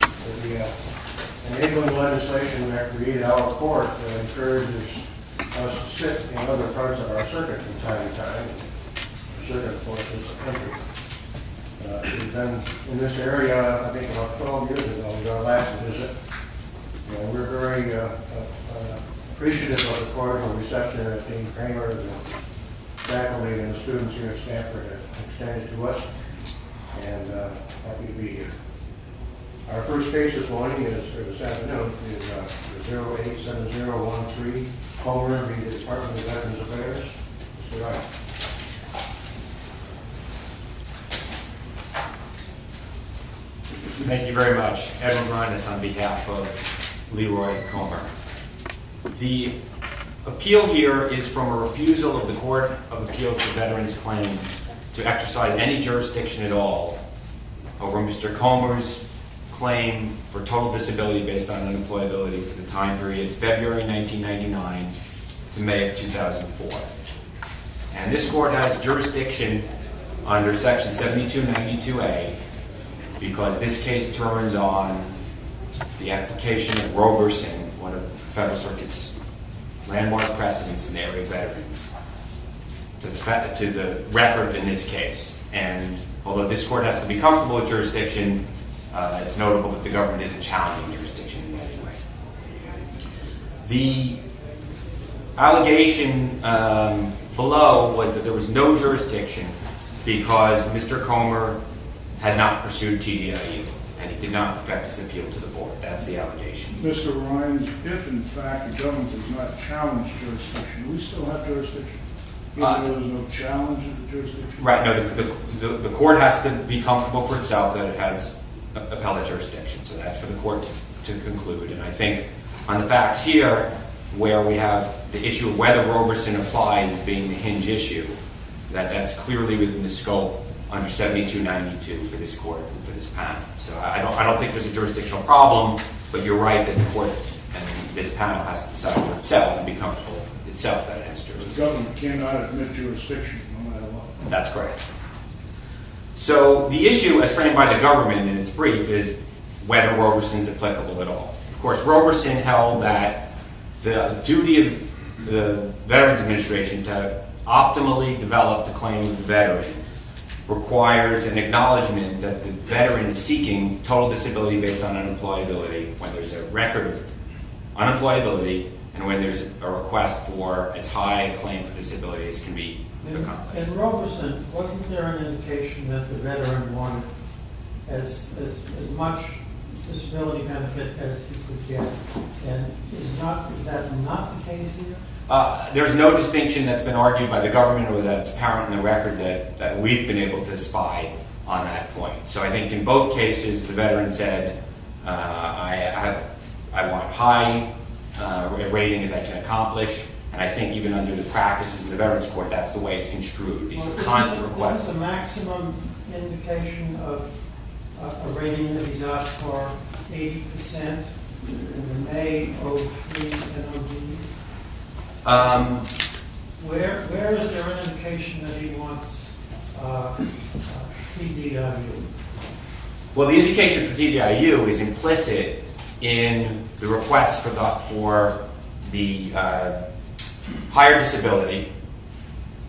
The enabling legislation that created our court encourages us to sit in other parts of our circuit from time to time. The circuit, of course, is a country. She's been in this area, I think, about 12 years ago, was our last visit. And we're very appreciative of the cordial reception that Dean Kramer and the faculty and the students here at Stanford have extended to us. And happy to be here. Our first case this morning, or this afternoon, is 087013 Comer v. Department of Veterans Affairs. Mr. Wright. Thank you very much. Edwin Reines on behalf of Leroy Comer. The appeal here is from a refusal of the Court of Appeals to Veterans Claims to exercise any jurisdiction at all over Mr. Comer's claim for total disability based on unemployability for the time period February 1999 to May of 2004. And this court has jurisdiction under section 7292A because this case turns on the application of Roberson, one of the Federal Circuit's landmark precedents in the area of veterans, to the record in this case. And although this court has to be comfortable with jurisdiction, it's notable that the government isn't challenging jurisdiction in any way. The allegation below was that there was no jurisdiction because Mr. Comer had not pursued TDIU and he did not affect his appeal to the board. That's the allegation. Mr. Reines, if in fact the government does not challenge jurisdiction, do we still have jurisdiction? You mean there's no challenge to jurisdiction? Right. No. The court has to be comfortable for itself that it has appellate jurisdiction. So that's for the court to conclude. And I think on the facts here, where we have the issue of whether Roberson applies as being the hinge issue, that that's clearly within the scope under 7292 for this court, for this panel. So I don't think there's a jurisdictional problem, but you're right that the court and this panel has to decide for itself and be comfortable with itself that it has jurisdiction. So the issue as framed by the government in its brief is whether Roberson is applicable at all. Of course, Roberson held that the duty of the Veterans Administration to optimally develop the claim of the veteran requires an acknowledgement that the veteran seeking total disability based on unemployability, when there's a record of unemployability and when there's a request for as high a claim for disability as can be accomplished. And Roberson, wasn't there an indication that the veteran wanted as much disability benefit as he could get? And is that not the case here? There's no distinction that's been argued by the government or that's apparent in the record that we've been able to spy on that point. So I think in both cases, the veteran said, I want as high a rating as I can accomplish. And I think even under the practices of the Veterans Court, that's the way it's construed. These are constant requests. What's the maximum indication of a rating that he's asked for? 80%? A, O, T, and O, D? Where is there an indication that he wants TDIU? Well, the indication for TDIU is implicit in the request for the higher disability,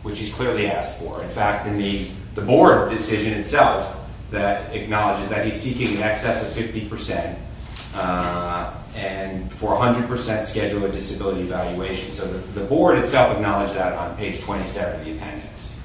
which he's clearly asked for. In fact, in the board decision itself, that acknowledges that he's seeking in excess of 50% and for 100% schedule of disability evaluation. So the board itself acknowledged that on page 27 of the appendix.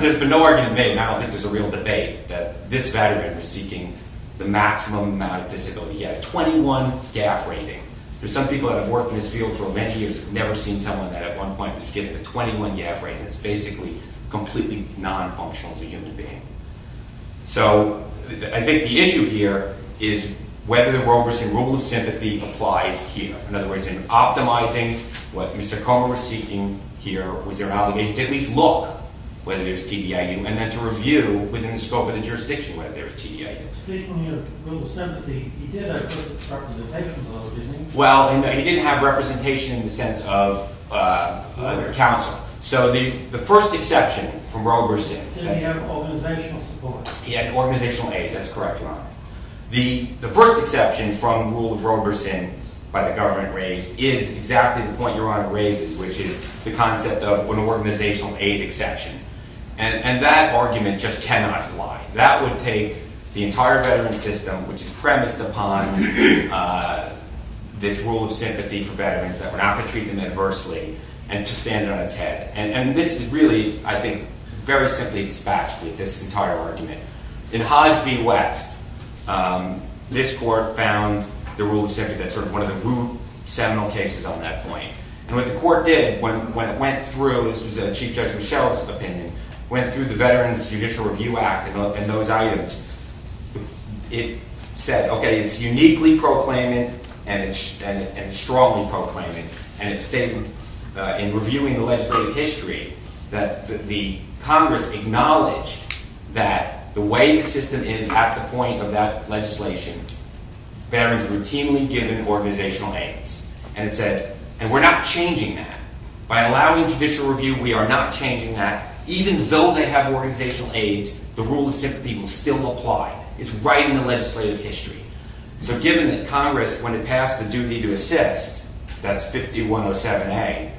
There's been no argument made, and I don't think there's a real debate, that this veteran is seeking the maximum amount of disability. He had a 21 GAF rating. There's some people that have worked in this field for many years, never seen someone that at one point was given a 21 GAF rating. It's basically completely non-functional as a human being. So I think the issue here is whether the Roberson Rule of Sympathy applies here. In other words, in optimizing what Mr. Conner was seeking here, was there an obligation to at least look whether there's TDIU, and then to review within the scope of the jurisdiction whether there's TDIU. Speaking of Rule of Sympathy, he did have representation, though, didn't he? Well, he didn't have representation in the sense of counsel. So the first exception from Roberson. He had organizational support. He had organizational aid. That's correct, Your Honor. The first exception from Rule of Roberson by the government raised is exactly the point Your Honor raises, which is the concept of an organizational aid exception. And that argument just cannot fly. That would take the entire veteran system, which is premised upon this Rule of Sympathy for veterans, that we're not going to treat them adversely, and to stand it on its head. And this is really, I think, very simply dispatched with this entire argument. In Hodge v. West, this court found the Rule of Sympathy, that's sort of one of the root seminal cases on that point. And what the court did when it went through, this was Chief Judge Michelle's opinion, went through the Veterans Judicial Review Act and those items. It said, okay, it's uniquely proclaiming and strongly proclaiming, and it stated in reviewing the legislative history that the Congress acknowledged that the way the system is at the point of that legislation, there is routinely given organizational aids. And it said, and we're not changing that. By allowing judicial review, we are not changing that. Even though they have organizational aids, the Rule of Sympathy will still apply. It's right in the legislative history. So given that Congress, when it passed the duty to assist, that's 5107A,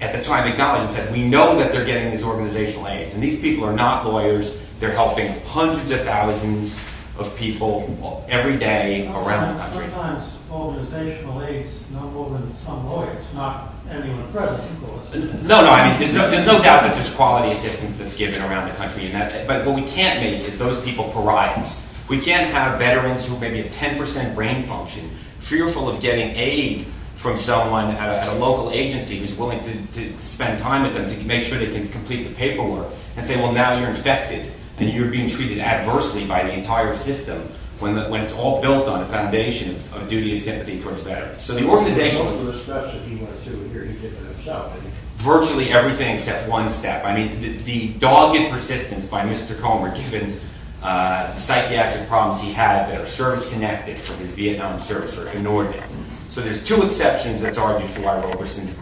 at the time acknowledged and said, we know that they're getting these organizational aids. And these people are not lawyers. They're helping hundreds of thousands of people every day around the country. Sometimes organizational aids, no more than some lawyers, not anyone present, of course. No, no, I mean, there's no doubt that there's quality assistance that's given around the country. But what we can't make is those people pariahs. We can't have veterans who maybe have 10 percent brain function, fearful of getting aid from someone at a local agency who's willing to spend time with them to make sure they can complete the paperwork, and say, well, now you're infected and you're being treated adversely by the entire system when it's all built on a foundation of duty of sympathy towards veterans. So the organizational – There's no extra steps that he wants to adhere to himself. Virtually everything except one step. I mean, the dogged persistence by Mr. Comer, given the psychiatric problems he had, that are service-connected from his Vietnam service, are inordinate. So there's two exceptions that's argued for why Roberson's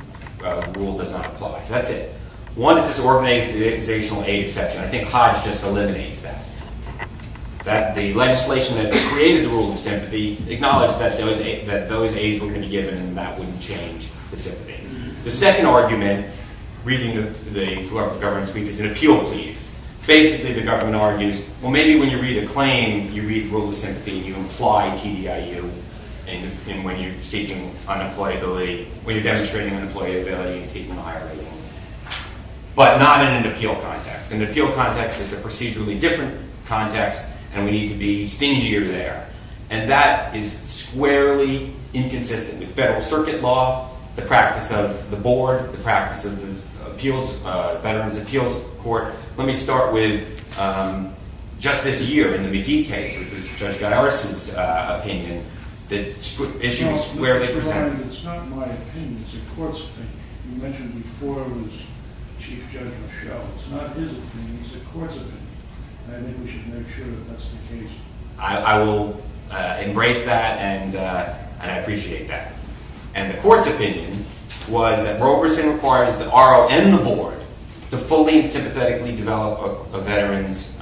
rule does not apply. That's it. One is this organizational aid exception. I think Hodge just eliminates that. That the legislation that created the rule of sympathy acknowledged that those aids were going to be given, and that wouldn't change the sympathy. The second argument, reading whoever the government is speaking to, is an appeal plea. Basically, the government argues, well, maybe when you read a claim, you read the rule of sympathy, and you imply TDIU when you're seeking unemployability – when you're demonstrating unemployability and seeking a higher rating. But not in an appeal context. In an appeal context, it's a procedurally different context, and we need to be stingier there. And that is squarely inconsistent with federal circuit law, the practice of the board, the practice of the Veterans' Appeals Court. Let me start with just this year in the McGee case, which was Judge Garris' opinion. The issue is squarely presented. It's not my opinion. It's a court's opinion. You mentioned before it was Chief Judge Rochelle. It's not his opinion. It's a court's opinion. I think we should make sure that that's the case. I will embrace that, and I appreciate that. And the court's opinion was that Roberson requires the RO and the board to fully and sympathetically develop a veteran's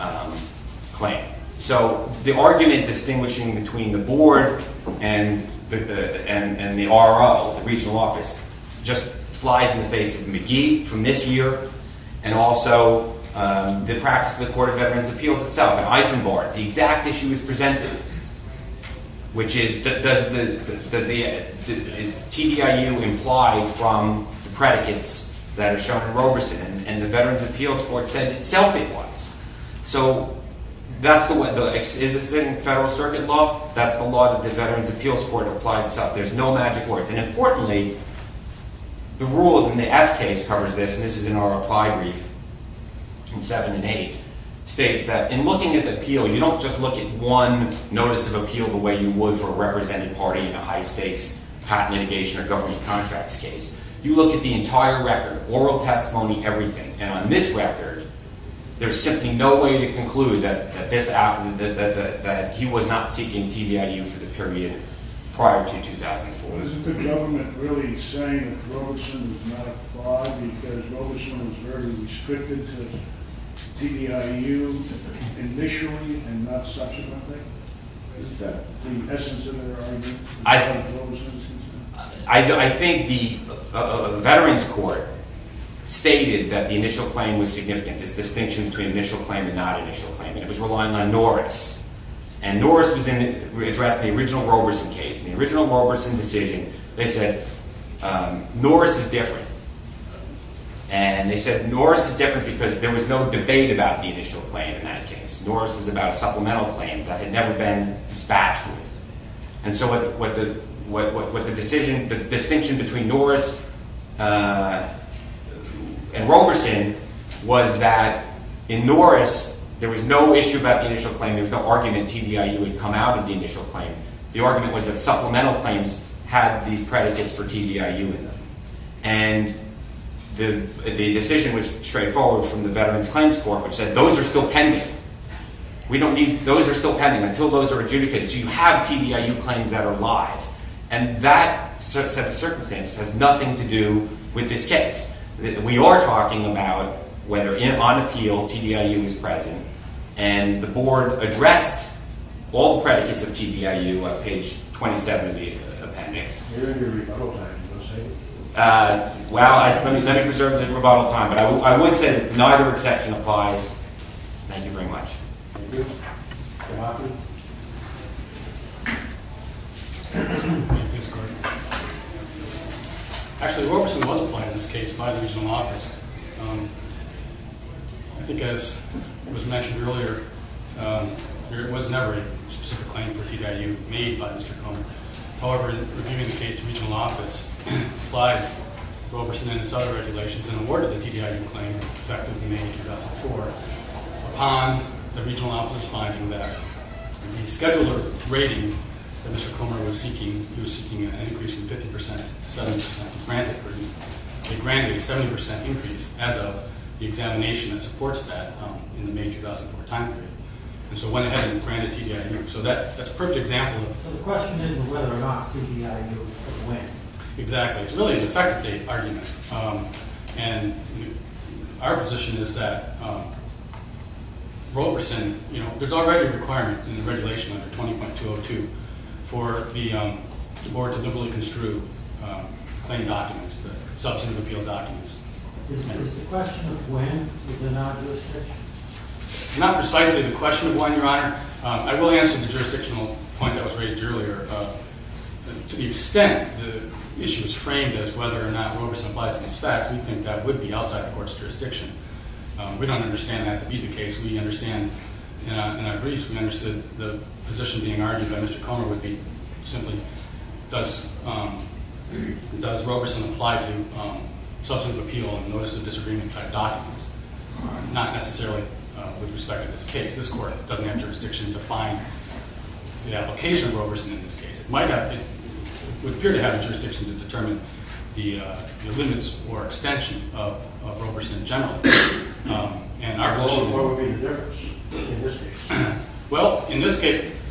claim. So the argument distinguishing between the board and the RO, the regional office, just flies in the face of McGee from this year, and also the practice of the Court of Veterans' Appeals itself in Eisenbord. The exact issue is presented, which is, is TDIU implied from the predicates that are shown in Roberson? And the Veterans' Appeals Court said itself it was. So that's the way. Is this in federal circuit law? That's the law that the Veterans' Appeals Court applies itself. There's no magic words. And importantly, the rules in the F case covers this, and this is in our reply brief in 7 and 8, states that in looking at the appeal, you don't just look at one notice of appeal the way you would for a represented party in a high-stakes patent litigation or government contracts case. You look at the entire record, oral testimony, everything. And on this record, there's simply no way to conclude that he was not seeking TDIU for the period prior to 2004. Isn't the government really saying that Roberson was not applied because Roberson was very restricted to TDIU initially and not subsequently? Isn't that the essence of their argument? I think the Veterans' Court stated that the initial claim was significant, this distinction between initial claim and not initial claim, and it was relying on Norris. And Norris addressed the original Roberson case. In the original Roberson decision, they said Norris is different. And they said Norris is different because there was no debate about the initial claim in that case. Norris was about a supplemental claim that had never been dispatched with. And so what the distinction between Norris and Roberson was that in Norris, there was no issue about the initial claim. There was no argument TDIU would come out of the initial claim. The argument was that supplemental claims had these predicates for TDIU in them. And the decision was straightforward from the Veterans' Claims Court, which said those are still pending. Those are still pending until those are adjudicated. So you have TDIU claims that are live. And that set of circumstances has nothing to do with this case. We are talking about whether on appeal TDIU is present. And the board addressed all the predicates of TDIU on page 27 of the appendix. You're in your rebuttal time, so to say. Well, let me reserve the rebuttal time. But I would say that neither exception applies. Thank you very much. Thank you. Mr. Hoffman. Actually, Roberson was applied in this case by the regional office. I think as was mentioned earlier, there was never a specific claim for TDIU made by Mr. Komen. However, in reviewing the case, the regional office applied Roberson and his other regulations and awarded the TDIU claim effectively in May 2004. Upon the regional office finding that the scheduler rating that Mr. Komen was seeking, he was seeking an increase from 50 percent to 70 percent. It granted a 70 percent increase as of the examination that supports that in the May 2004 time period. And so went ahead and granted TDIU. So that's a perfect example. So the question is whether or not TDIU will win. Exactly. It's really an effective argument. And our position is that Roberson, you know, there's already a requirement in the regulation under 20.202 for the board to liberally construe claim documents, the substantive appeal documents. Is the question of when? Is there not a jurisdiction? Not precisely the question of when, Your Honor. I will answer the jurisdictional point that was raised earlier. To the extent the issue is framed as whether or not Roberson applies to these facts, we think that would be outside the court's jurisdiction. We don't understand that to be the case. We understand, in our briefs, we understood the position being argued by Mr. Komen would be simply, does Roberson apply to substantive appeal and notice of disagreement type documents? Not necessarily with respect to this case. This court doesn't have jurisdiction to find the application of Roberson in this case. It would appear to have a jurisdiction to determine the limits or extension of Roberson in general. So what would be the difference in this case? Well,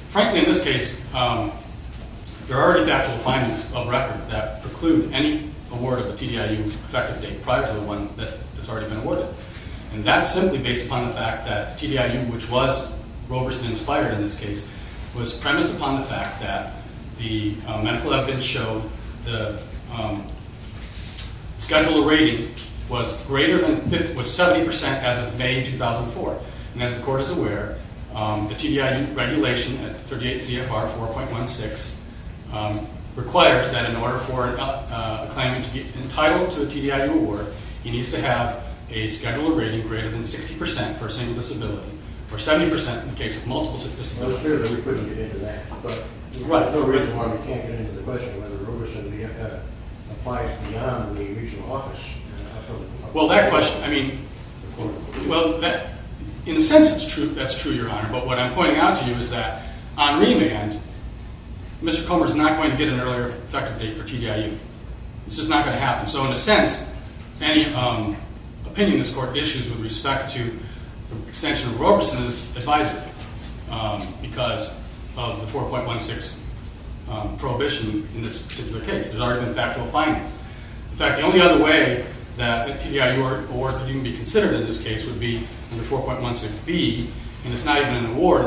frankly, in this case, there are already factual findings of record that preclude any award of a TDIU effective date prior to the one that's already been awarded. And that's simply based upon the fact that TDIU, which was Roberson-inspired in this case, was premised upon the fact that the medical evidence showed the schedule of rating was 70% as of May 2004. And as the court is aware, the TDIU regulation at 38 CFR 4.16 requires that in order for a claimant to be entitled to a TDIU award, he needs to have a schedule of rating greater than 60% for a single disability, or 70% in the case of multiple disabilities. Well, it's true that we couldn't get into that, but there's no reason why we can't get into the question whether Roberson BFF applies beyond the need of usual office. Well, that question, I mean, well, in a sense that's true, Your Honor. But what I'm pointing out to you is that on remand, Mr. Komen is not going to get an earlier effective date for TDIU. This is not going to happen. So in a sense, any opinion this court issues with respect to the extension of Roberson is advisable because of the 4.16 prohibition in this particular case. There's already been factual findings. In fact, the only other way that a TDIU award could even be considered in this case would be under 4.16B. And it's not even an award.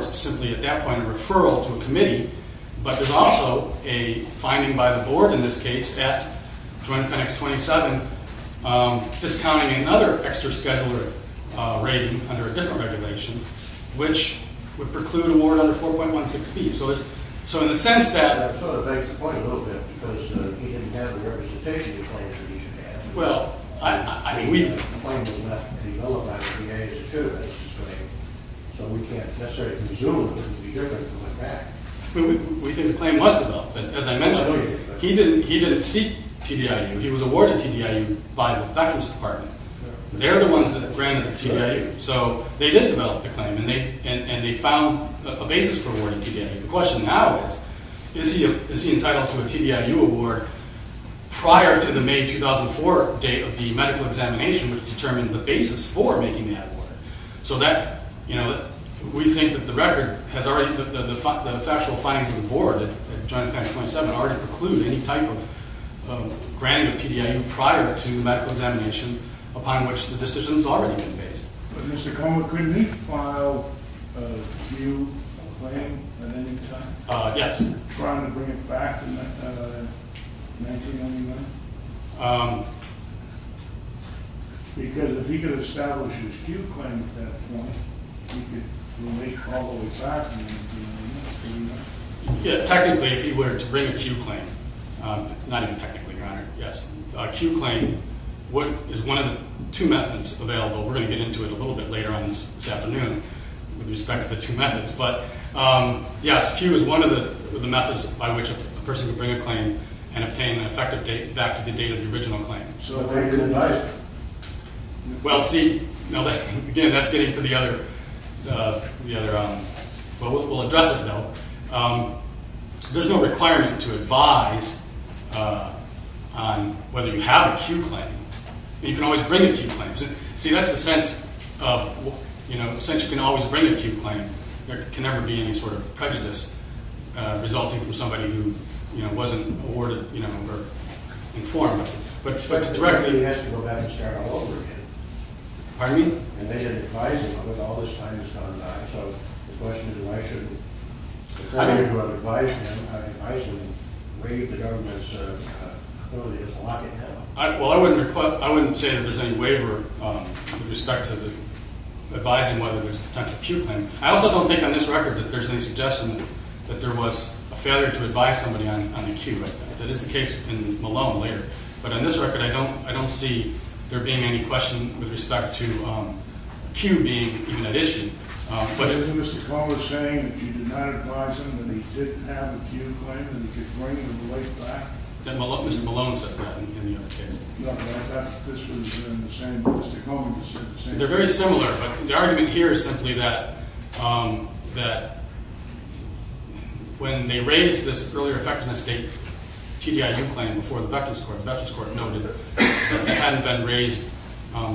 But there's also a finding by the board in this case at Joint Penix 27 discounting another extra scheduler rating under a different regulation, which would preclude an award under 4.16B. So in a sense that— That sort of makes the point a little bit because we didn't have the representation to claim that he should have. Well, I mean, we— The claim was left to be nullified under the age of two. So we can't necessarily presume it would be different from that. We think the claim was developed, as I mentioned. He didn't seek TDIU. He was awarded TDIU by the Veterans Department. They're the ones that granted the TDIU. So they did develop the claim, and they found a basis for awarding TDIU. The question now is, is he entitled to a TDIU award prior to the May 2004 date of the medical examination, which determines the basis for making the award? So that—you know, we think that the record has already—the factual findings of the board at Joint Penix 27 already preclude any type of granting of TDIU prior to the medical examination, upon which the decision has already been based. But, Mr. Comer, could he file a new claim at any time? Yes. Trying to bring it back in 1999? Because if he could establish his Q claim at that point, he could make it all the way back in 1999. Yeah, technically, if he were to bring a Q claim—not even technically, Your Honor, yes. A Q claim is one of the two methods available. We're going to get into it a little bit later on this afternoon with respect to the two methods. But, yes, Q is one of the methods by which a person could bring a claim and obtain an effective date back to the date of the original claim. So a very good advice? Well, see, again, that's getting to the other—we'll address it, though. There's no requirement to advise on whether you have a Q claim. You can always bring a Q claim. See, that's the sense of—since you can always bring a Q claim, there can never be any sort of prejudice resulting from somebody who wasn't awarded or informed. But directly— He has to go back and start all over again. Pardon me? And they didn't advise him on it all this time he's gone by. So the question is why shouldn't the person who advised him waive the government's ability to block him? Well, I wouldn't say that there's any waiver with respect to advising whether there's a potential Q claim. I also don't think on this record that there's any suggestion that there was a failure to advise somebody on the Q. That is the case in Malone later. But on this record, I don't see there being any question with respect to Q being even an issue. But isn't Mr. Cuomo saying that you did not advise him and he didn't have a Q claim and he could bring the right back? Mr. Malone says that in the other case. No, this was in the same—Mr. Cuomo said the same thing. They're very similar, but the argument here is simply that when they raised this earlier effectiveness TDIU claim before the Veterans Court, the Veterans Court noted that it hadn't been raised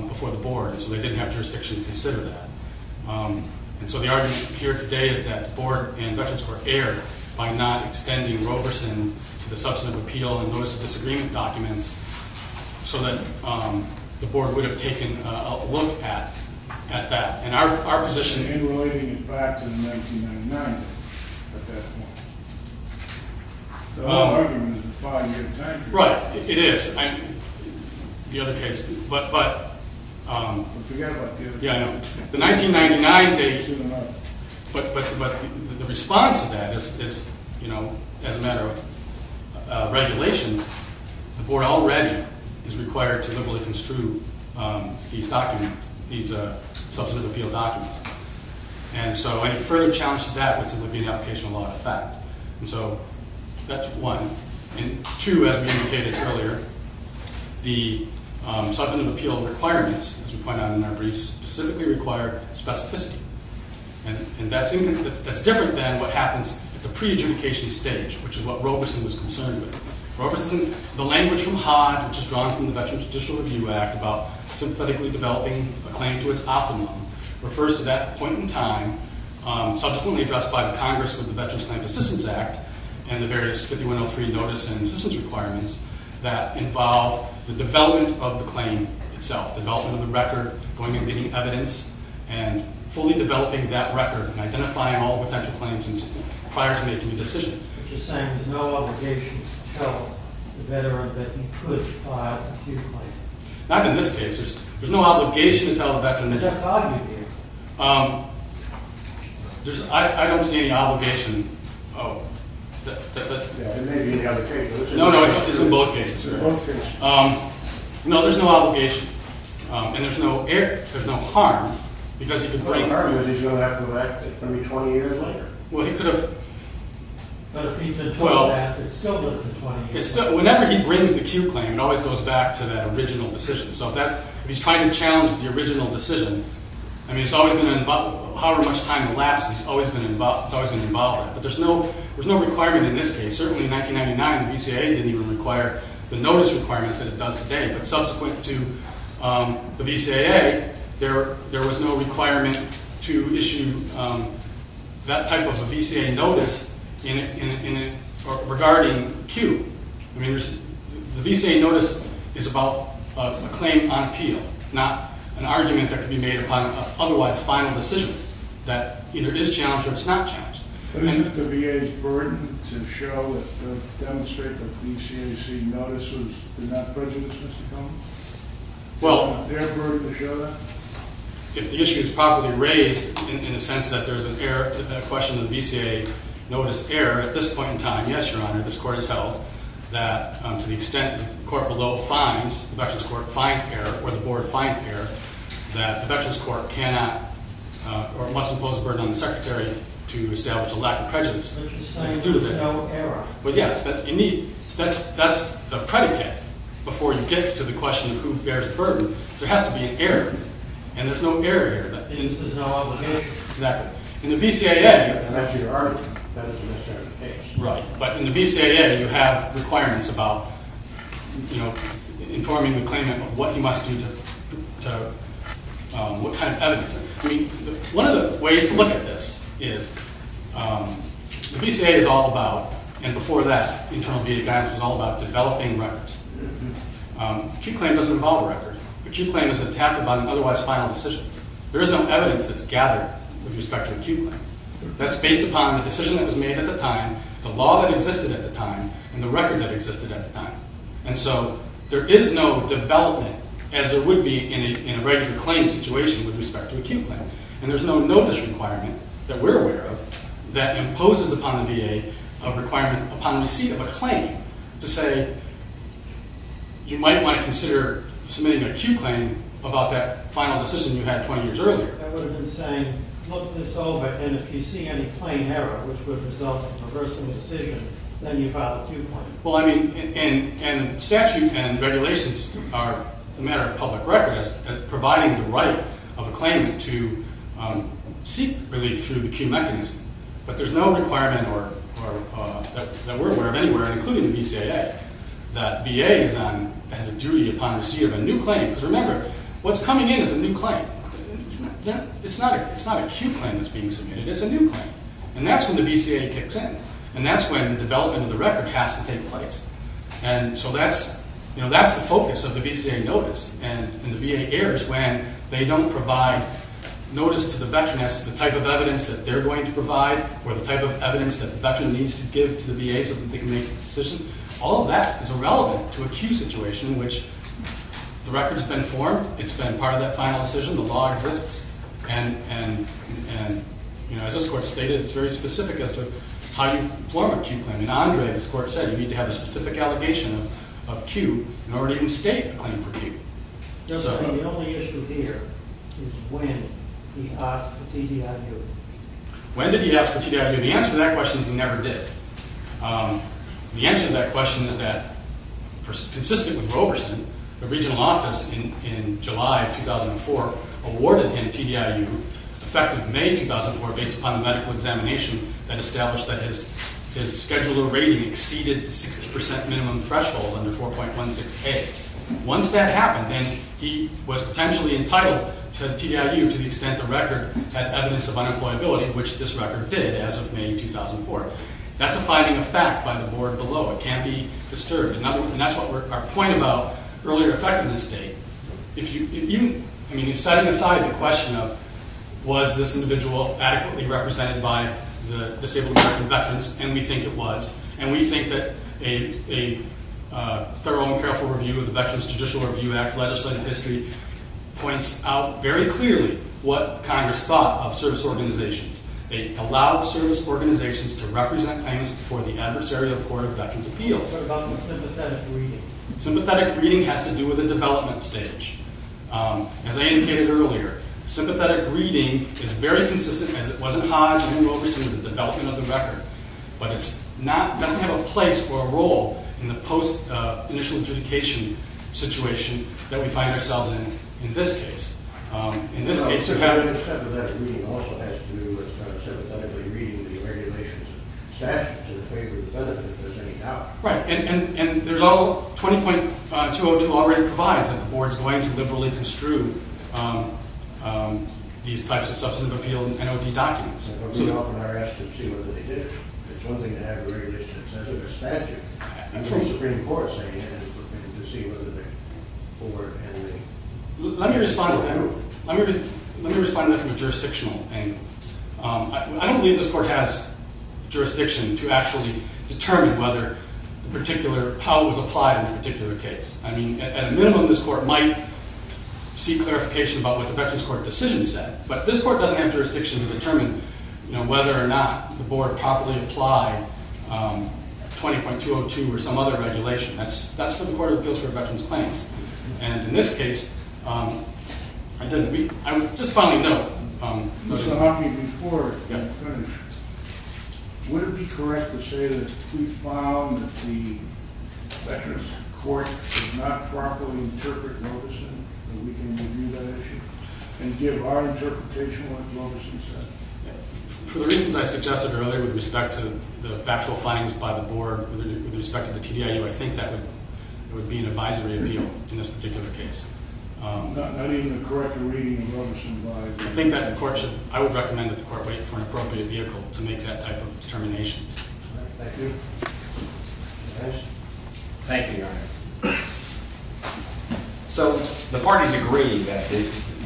before the board, so they didn't have jurisdiction to consider that. And so the argument here today is that the board and Veterans Court erred by not extending Roberson to the substantive appeal and notice of disagreement documents so that the board would have taken a look at that. And our position— In relating it back to the 1999, at that point. So that argument is a five-year time period. Right, it is. The other case— But forget about the other case. Yeah, I know. The 1999 date— But the response to that is, you know, as a matter of regulation, the board already is required to liberally construe these documents, these substantive appeal documents. And so any further challenge to that would simply be an application of law of effect. And so that's one. And two, as we indicated earlier, the substantive appeal requirements, as we point out in our briefs, specifically require specificity. And that's different than what happens at the pre-adjudication stage, which is what Roberson was concerned with. Roberson—the language from Hodge, which is drawn from the Veterans Judicial Review Act about synthetically developing a claim to its optimum, refers to that point in time subsequently addressed by the Congress with the Veterans Claims Assistance Act and the various 5103 Notice and Assistance Requirements that involve the development of the claim itself, the development of the record, going and getting evidence, and fully developing that record and identifying all potential claims prior to making a decision. You're saying there's no obligation to tell the veteran that he could file an appeal claim. Not in this case. There's no obligation to tell the veteran— I don't see any obligation. It may be in the other case. No, no, it's in both cases. No, there's no obligation. And there's no harm because he could bring— The harm is he's going to have to elect it. It's going to be 20 years later. Well, he could have— But if he could have done that, it still would have been 20 years later. Whenever he brings the Q claim, it always goes back to that original decision. So if he's trying to challenge the original decision, I mean, it's always going to involve— However much time elapses, it's always going to involve it. But there's no requirement in this case. Certainly, in 1999, the VCAA didn't even require the notice requirements that it does today. But subsequent to the VCAA, there was no requirement to issue that type of a VCAA notice regarding Q. The VCAA notice is about a claim on appeal, not an argument that could be made upon an otherwise final decision that either is challenged or is not challenged. But isn't it the VA's burden to show and demonstrate that the VCAA notice is not present in the system? Well— Isn't it their burden to show that? If the issue is properly raised in the sense that there's a question of the VCAA notice error, at this point in time, yes, Your Honor, this court has held that to the extent the court below finds— the Veterans Court finds error, or the board finds error, that the Veterans Court cannot or must impose a burden on the Secretary to establish a lack of prejudice. Which is saying there's no error. Well, yes. That's the predicate before you get to the question of who bears the burden. There has to be an error. And there's no error here. There's no obligation. Exactly. In the VCAA— And that's your argument, that it's a misdemeanor case. Right. But in the VCAA, you have requirements about, you know, informing the claimant of what he must do to— what kind of evidence. I mean, one of the ways to look at this is the VCAA is all about— and before that, internal VA guidance was all about developing records. Acute claim doesn't involve a record. Acute claim is attacked upon an otherwise final decision. There is no evidence that's gathered with respect to acute claim. That's based upon the decision that was made at the time, the law that existed at the time, and the record that existed at the time. And so there is no development, as there would be in a regular claim situation, with respect to acute claim. And there's no notice requirement that we're aware of that imposes upon the VA a requirement upon receipt of a claim to say you might want to consider submitting an acute claim about that final decision you had 20 years earlier. That would have been saying, look this over, and if you see any plain error, which would result in reversing the decision, then you file acute claim. Well, I mean, and statute and regulations are a matter of public record as providing the right of a claimant to seek relief through the acute mechanism. But there's no requirement that we're aware of anywhere, including the VCAA, that VA has a duty upon receipt of a new claim. Because remember, what's coming in is a new claim. It's not acute claim that's being submitted, it's a new claim. And that's when the VCAA kicks in. And that's when the development of the record has to take place. And so that's the focus of the VCAA notice. And the VA errs when they don't provide notice to the veteran as to the type of evidence that they're going to provide or the type of evidence that the veteran needs to give to the VA so that they can make a decision. All of that is irrelevant to acute situation in which the record's been formed. It's been part of that final decision. The law exists. And, you know, as this Court stated, it's very specific as to how you form acute claim. I mean, Andre, as the Court said, you need to have a specific allegation of Q in order to even state a claim for Q. The only issue here is when he asked for TDIU. When did he ask for TDIU? The answer to that question is he never did. The answer to that question is that, consistent with Roberson, the regional office in July of 2004 awarded him TDIU effective May of 2004 based upon the medical examination that established that his scheduler rating exceeded the 60 percent minimum threshold under 4.16A. Once that happened, and he was potentially entitled to TDIU to the extent the record had evidence of unemployability, which this record did as of May 2004, that's a finding of fact by the board below. It can't be disturbed. And that's what our point about earlier effectiveness date. I mean, setting aside the question of was this individual adequately represented by the disabled American veterans, and we think it was. And we think that a thorough and careful review of the Veterans Judicial Review Act's legislative history points out very clearly what Congress thought of service organizations. It allowed service organizations to represent claims before the adversarial Court of Veterans Appeals. Sorry, about the sympathetic reading. Sympathetic reading has to do with the development stage. As I indicated earlier, sympathetic reading is very consistent, as it was in Hodge and in Roberson, with the development of the record. But it doesn't have a place or a role in the post-initial adjudication situation that we find ourselves in in this case. In this case, you have it. But sympathetic reading also has to do with sympathetic reading the regulations and statutes in favor of the benefit, if there's any doubt. Right. And there's all 20.202 already provides that the board's going to liberally construe these types of substantive appeal NOD documents. But we often are asked to see whether they did. It's one thing to have a very distant sense of the statute. And the Supreme Court saying it is looking to see whether the board and the… Let me respond to that from a jurisdictional angle. I don't believe this court has jurisdiction to actually determine how it was applied in a particular case. I mean, at a minimum, this court might see clarification about what the Veterans Court decision said. But this court doesn't have jurisdiction to determine whether or not the board properly applied 20.202 or some other regulation. That's for the Court of Appeals for Veterans Claims. And in this case, I would just finally note… Mr. Hockey, before I finish, would it be correct to say that we found that the Veterans Court did not properly interpret what it said, that we can review that issue and give our interpretation of what it said? For the reasons I suggested earlier with respect to the factual findings by the board, with respect to the TDIU, I think that would be an advisory appeal in this particular case. Not even a correct reading of what was advised? I think that the court should… I would recommend that the court wait for an appropriate vehicle to make that type of determination. Thank you. Judge? Thank you, Your Honor. So the parties agree that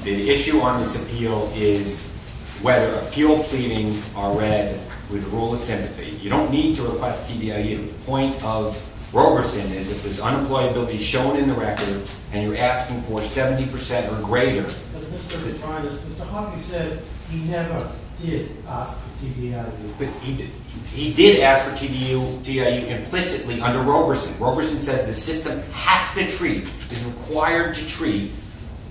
the issue on this appeal is whether appeal pleadings are read with rule of sympathy. You don't need to request TDIU. The point of Roberson is if there's unemployability shown in the record and you're asking for 70 percent or greater… Mr. Hockey said he never did ask for TDIU. He did ask for TDIU implicitly under Roberson. Roberson says the system has to treat, is required to treat,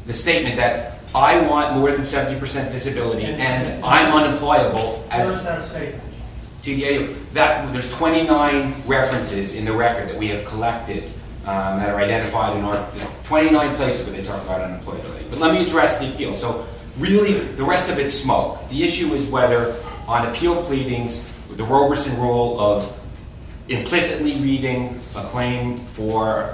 the statement that I want more than 70 percent disability and I'm unemployable. Where is that statement? TDIU. There's 29 references in the record that we have collected that are identified in our… 29 places where they talk about unemployability. But let me address the appeal. So really the rest of it's smoke. The issue is whether on appeal pleadings the Roberson rule of implicitly reading a claim for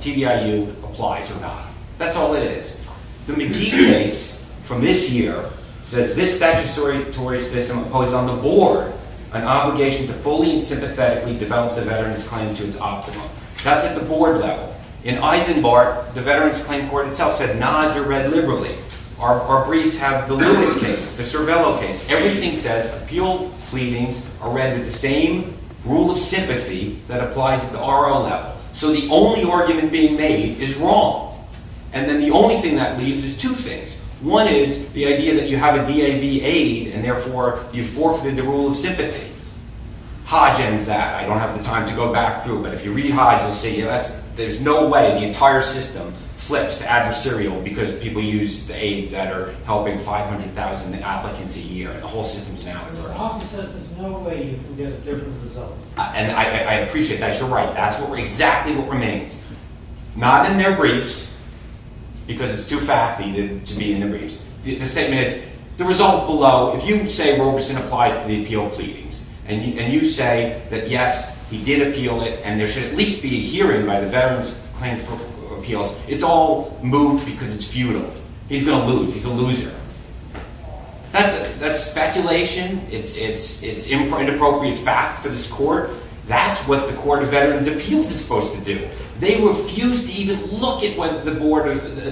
TDIU applies or not. That's all it is. The McGee case from this year says this statutory system imposed on the board an obligation to fully and sympathetically develop the veteran's claim to its optimum. That's at the board level. In Eisenbart, the Veterans Claim Court itself said nods are read liberally. Our briefs have the Lewis case, the Cervello case. Everything says appeal pleadings are read with the same rule of sympathy that applies at the RL level. So the only argument being made is wrong. And then the only thing that leaves is two things. One is the idea that you have a DAV aid and therefore you've forfeited the rule of sympathy. Hodge ends that. I don't have the time to go back through, but if you read Hodge, you'll see that there's no way the entire system flips to adversarial because people use the aids that are helping 500,000 applicants a year. The whole system is now at risk. The office says there's no way you can get a different result. And I appreciate that. You're right. That's exactly what remains. Not in their briefs because it's too fact-y to be in the briefs. The statement is the result below, if you say Robeson applies to the appeal pleadings and you say that, yes, he did appeal it and there should at least be a hearing by the Veterans Claim Court of Appeals, it's all moved because it's futile. He's going to lose. He's a loser. That's speculation. It's inappropriate fact for this court. That's what the Court of Veterans Appeals is supposed to do. They refuse to even look at whether the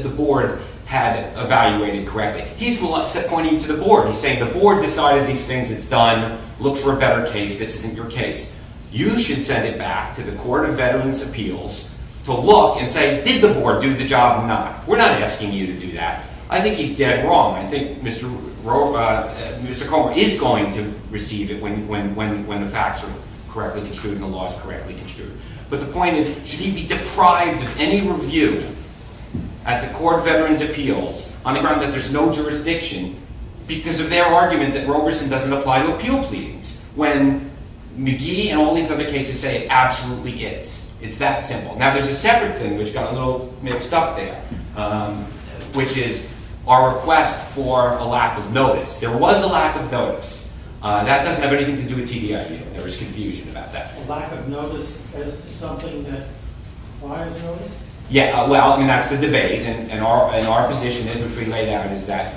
board had evaluated correctly. He's pointing to the board. He's saying the board decided these things. It's done. Look for a better case. This isn't your case. You should send it back to the Court of Veterans Appeals to look and say, did the board do the job or not? We're not asking you to do that. I think he's dead wrong. I think Mr. Comer is going to receive it when the facts are correctly construed and the law is correctly construed. But the point is, should he be deprived of any review at the Court of Veterans Appeals on the grounds that there's no jurisdiction because of their argument that Robeson doesn't apply to appeal pleadings when McGee and all these other cases say it absolutely is? It's that simple. Now, there's a separate thing which got a little mixed up there, which is our request for a lack of notice. There was a lack of notice. That doesn't have anything to do with TDIU. There was confusion about that. A lack of notice as to something that requires notice? Yeah. Well, I mean, that's the debate. And our position is, which we laid out, is that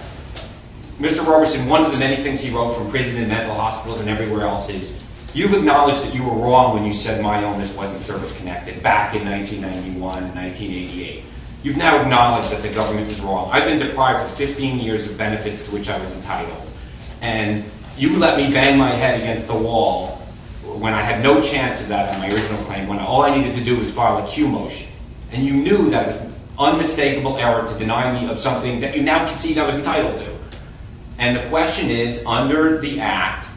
Mr. Robeson, one of the many things he wrote from prison and mental hospitals and everywhere else is, you've acknowledged that you were wrong when you said my illness wasn't service-connected back in 1991, 1988. You've now acknowledged that the government was wrong. I've been deprived for 15 years of benefits to which I was entitled. And you let me bang my head against the wall when I had no chance of that in my original claim, when all I needed to do was file a Q motion. And you knew that it was an unmistakable error to deny me of something that you now concede I was entitled to. And the question is, under the Act,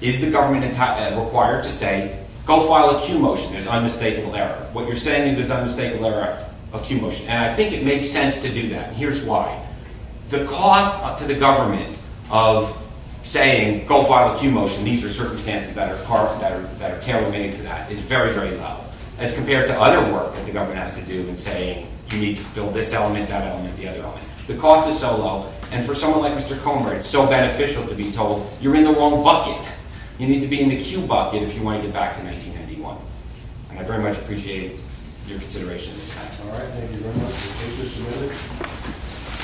is the government required to say, go file a Q motion. It's an unmistakable error. What you're saying is it's an unmistakable error, a Q motion. And I think it makes sense to do that. And here's why. The cost to the government of saying, go file a Q motion, these are circumstances that are tariffed, that are terror-mitting for that, is very, very low, as compared to other work that the government has to do in saying, you need to fill this element, that element, the other element. The cost is so low. And for someone like Mr. Comer, it's so beneficial to be told, you're in the wrong bucket. You need to be in the Q bucket if you want to get back to 1991. And I very much appreciate your consideration of this matter. All right. Thank you very much.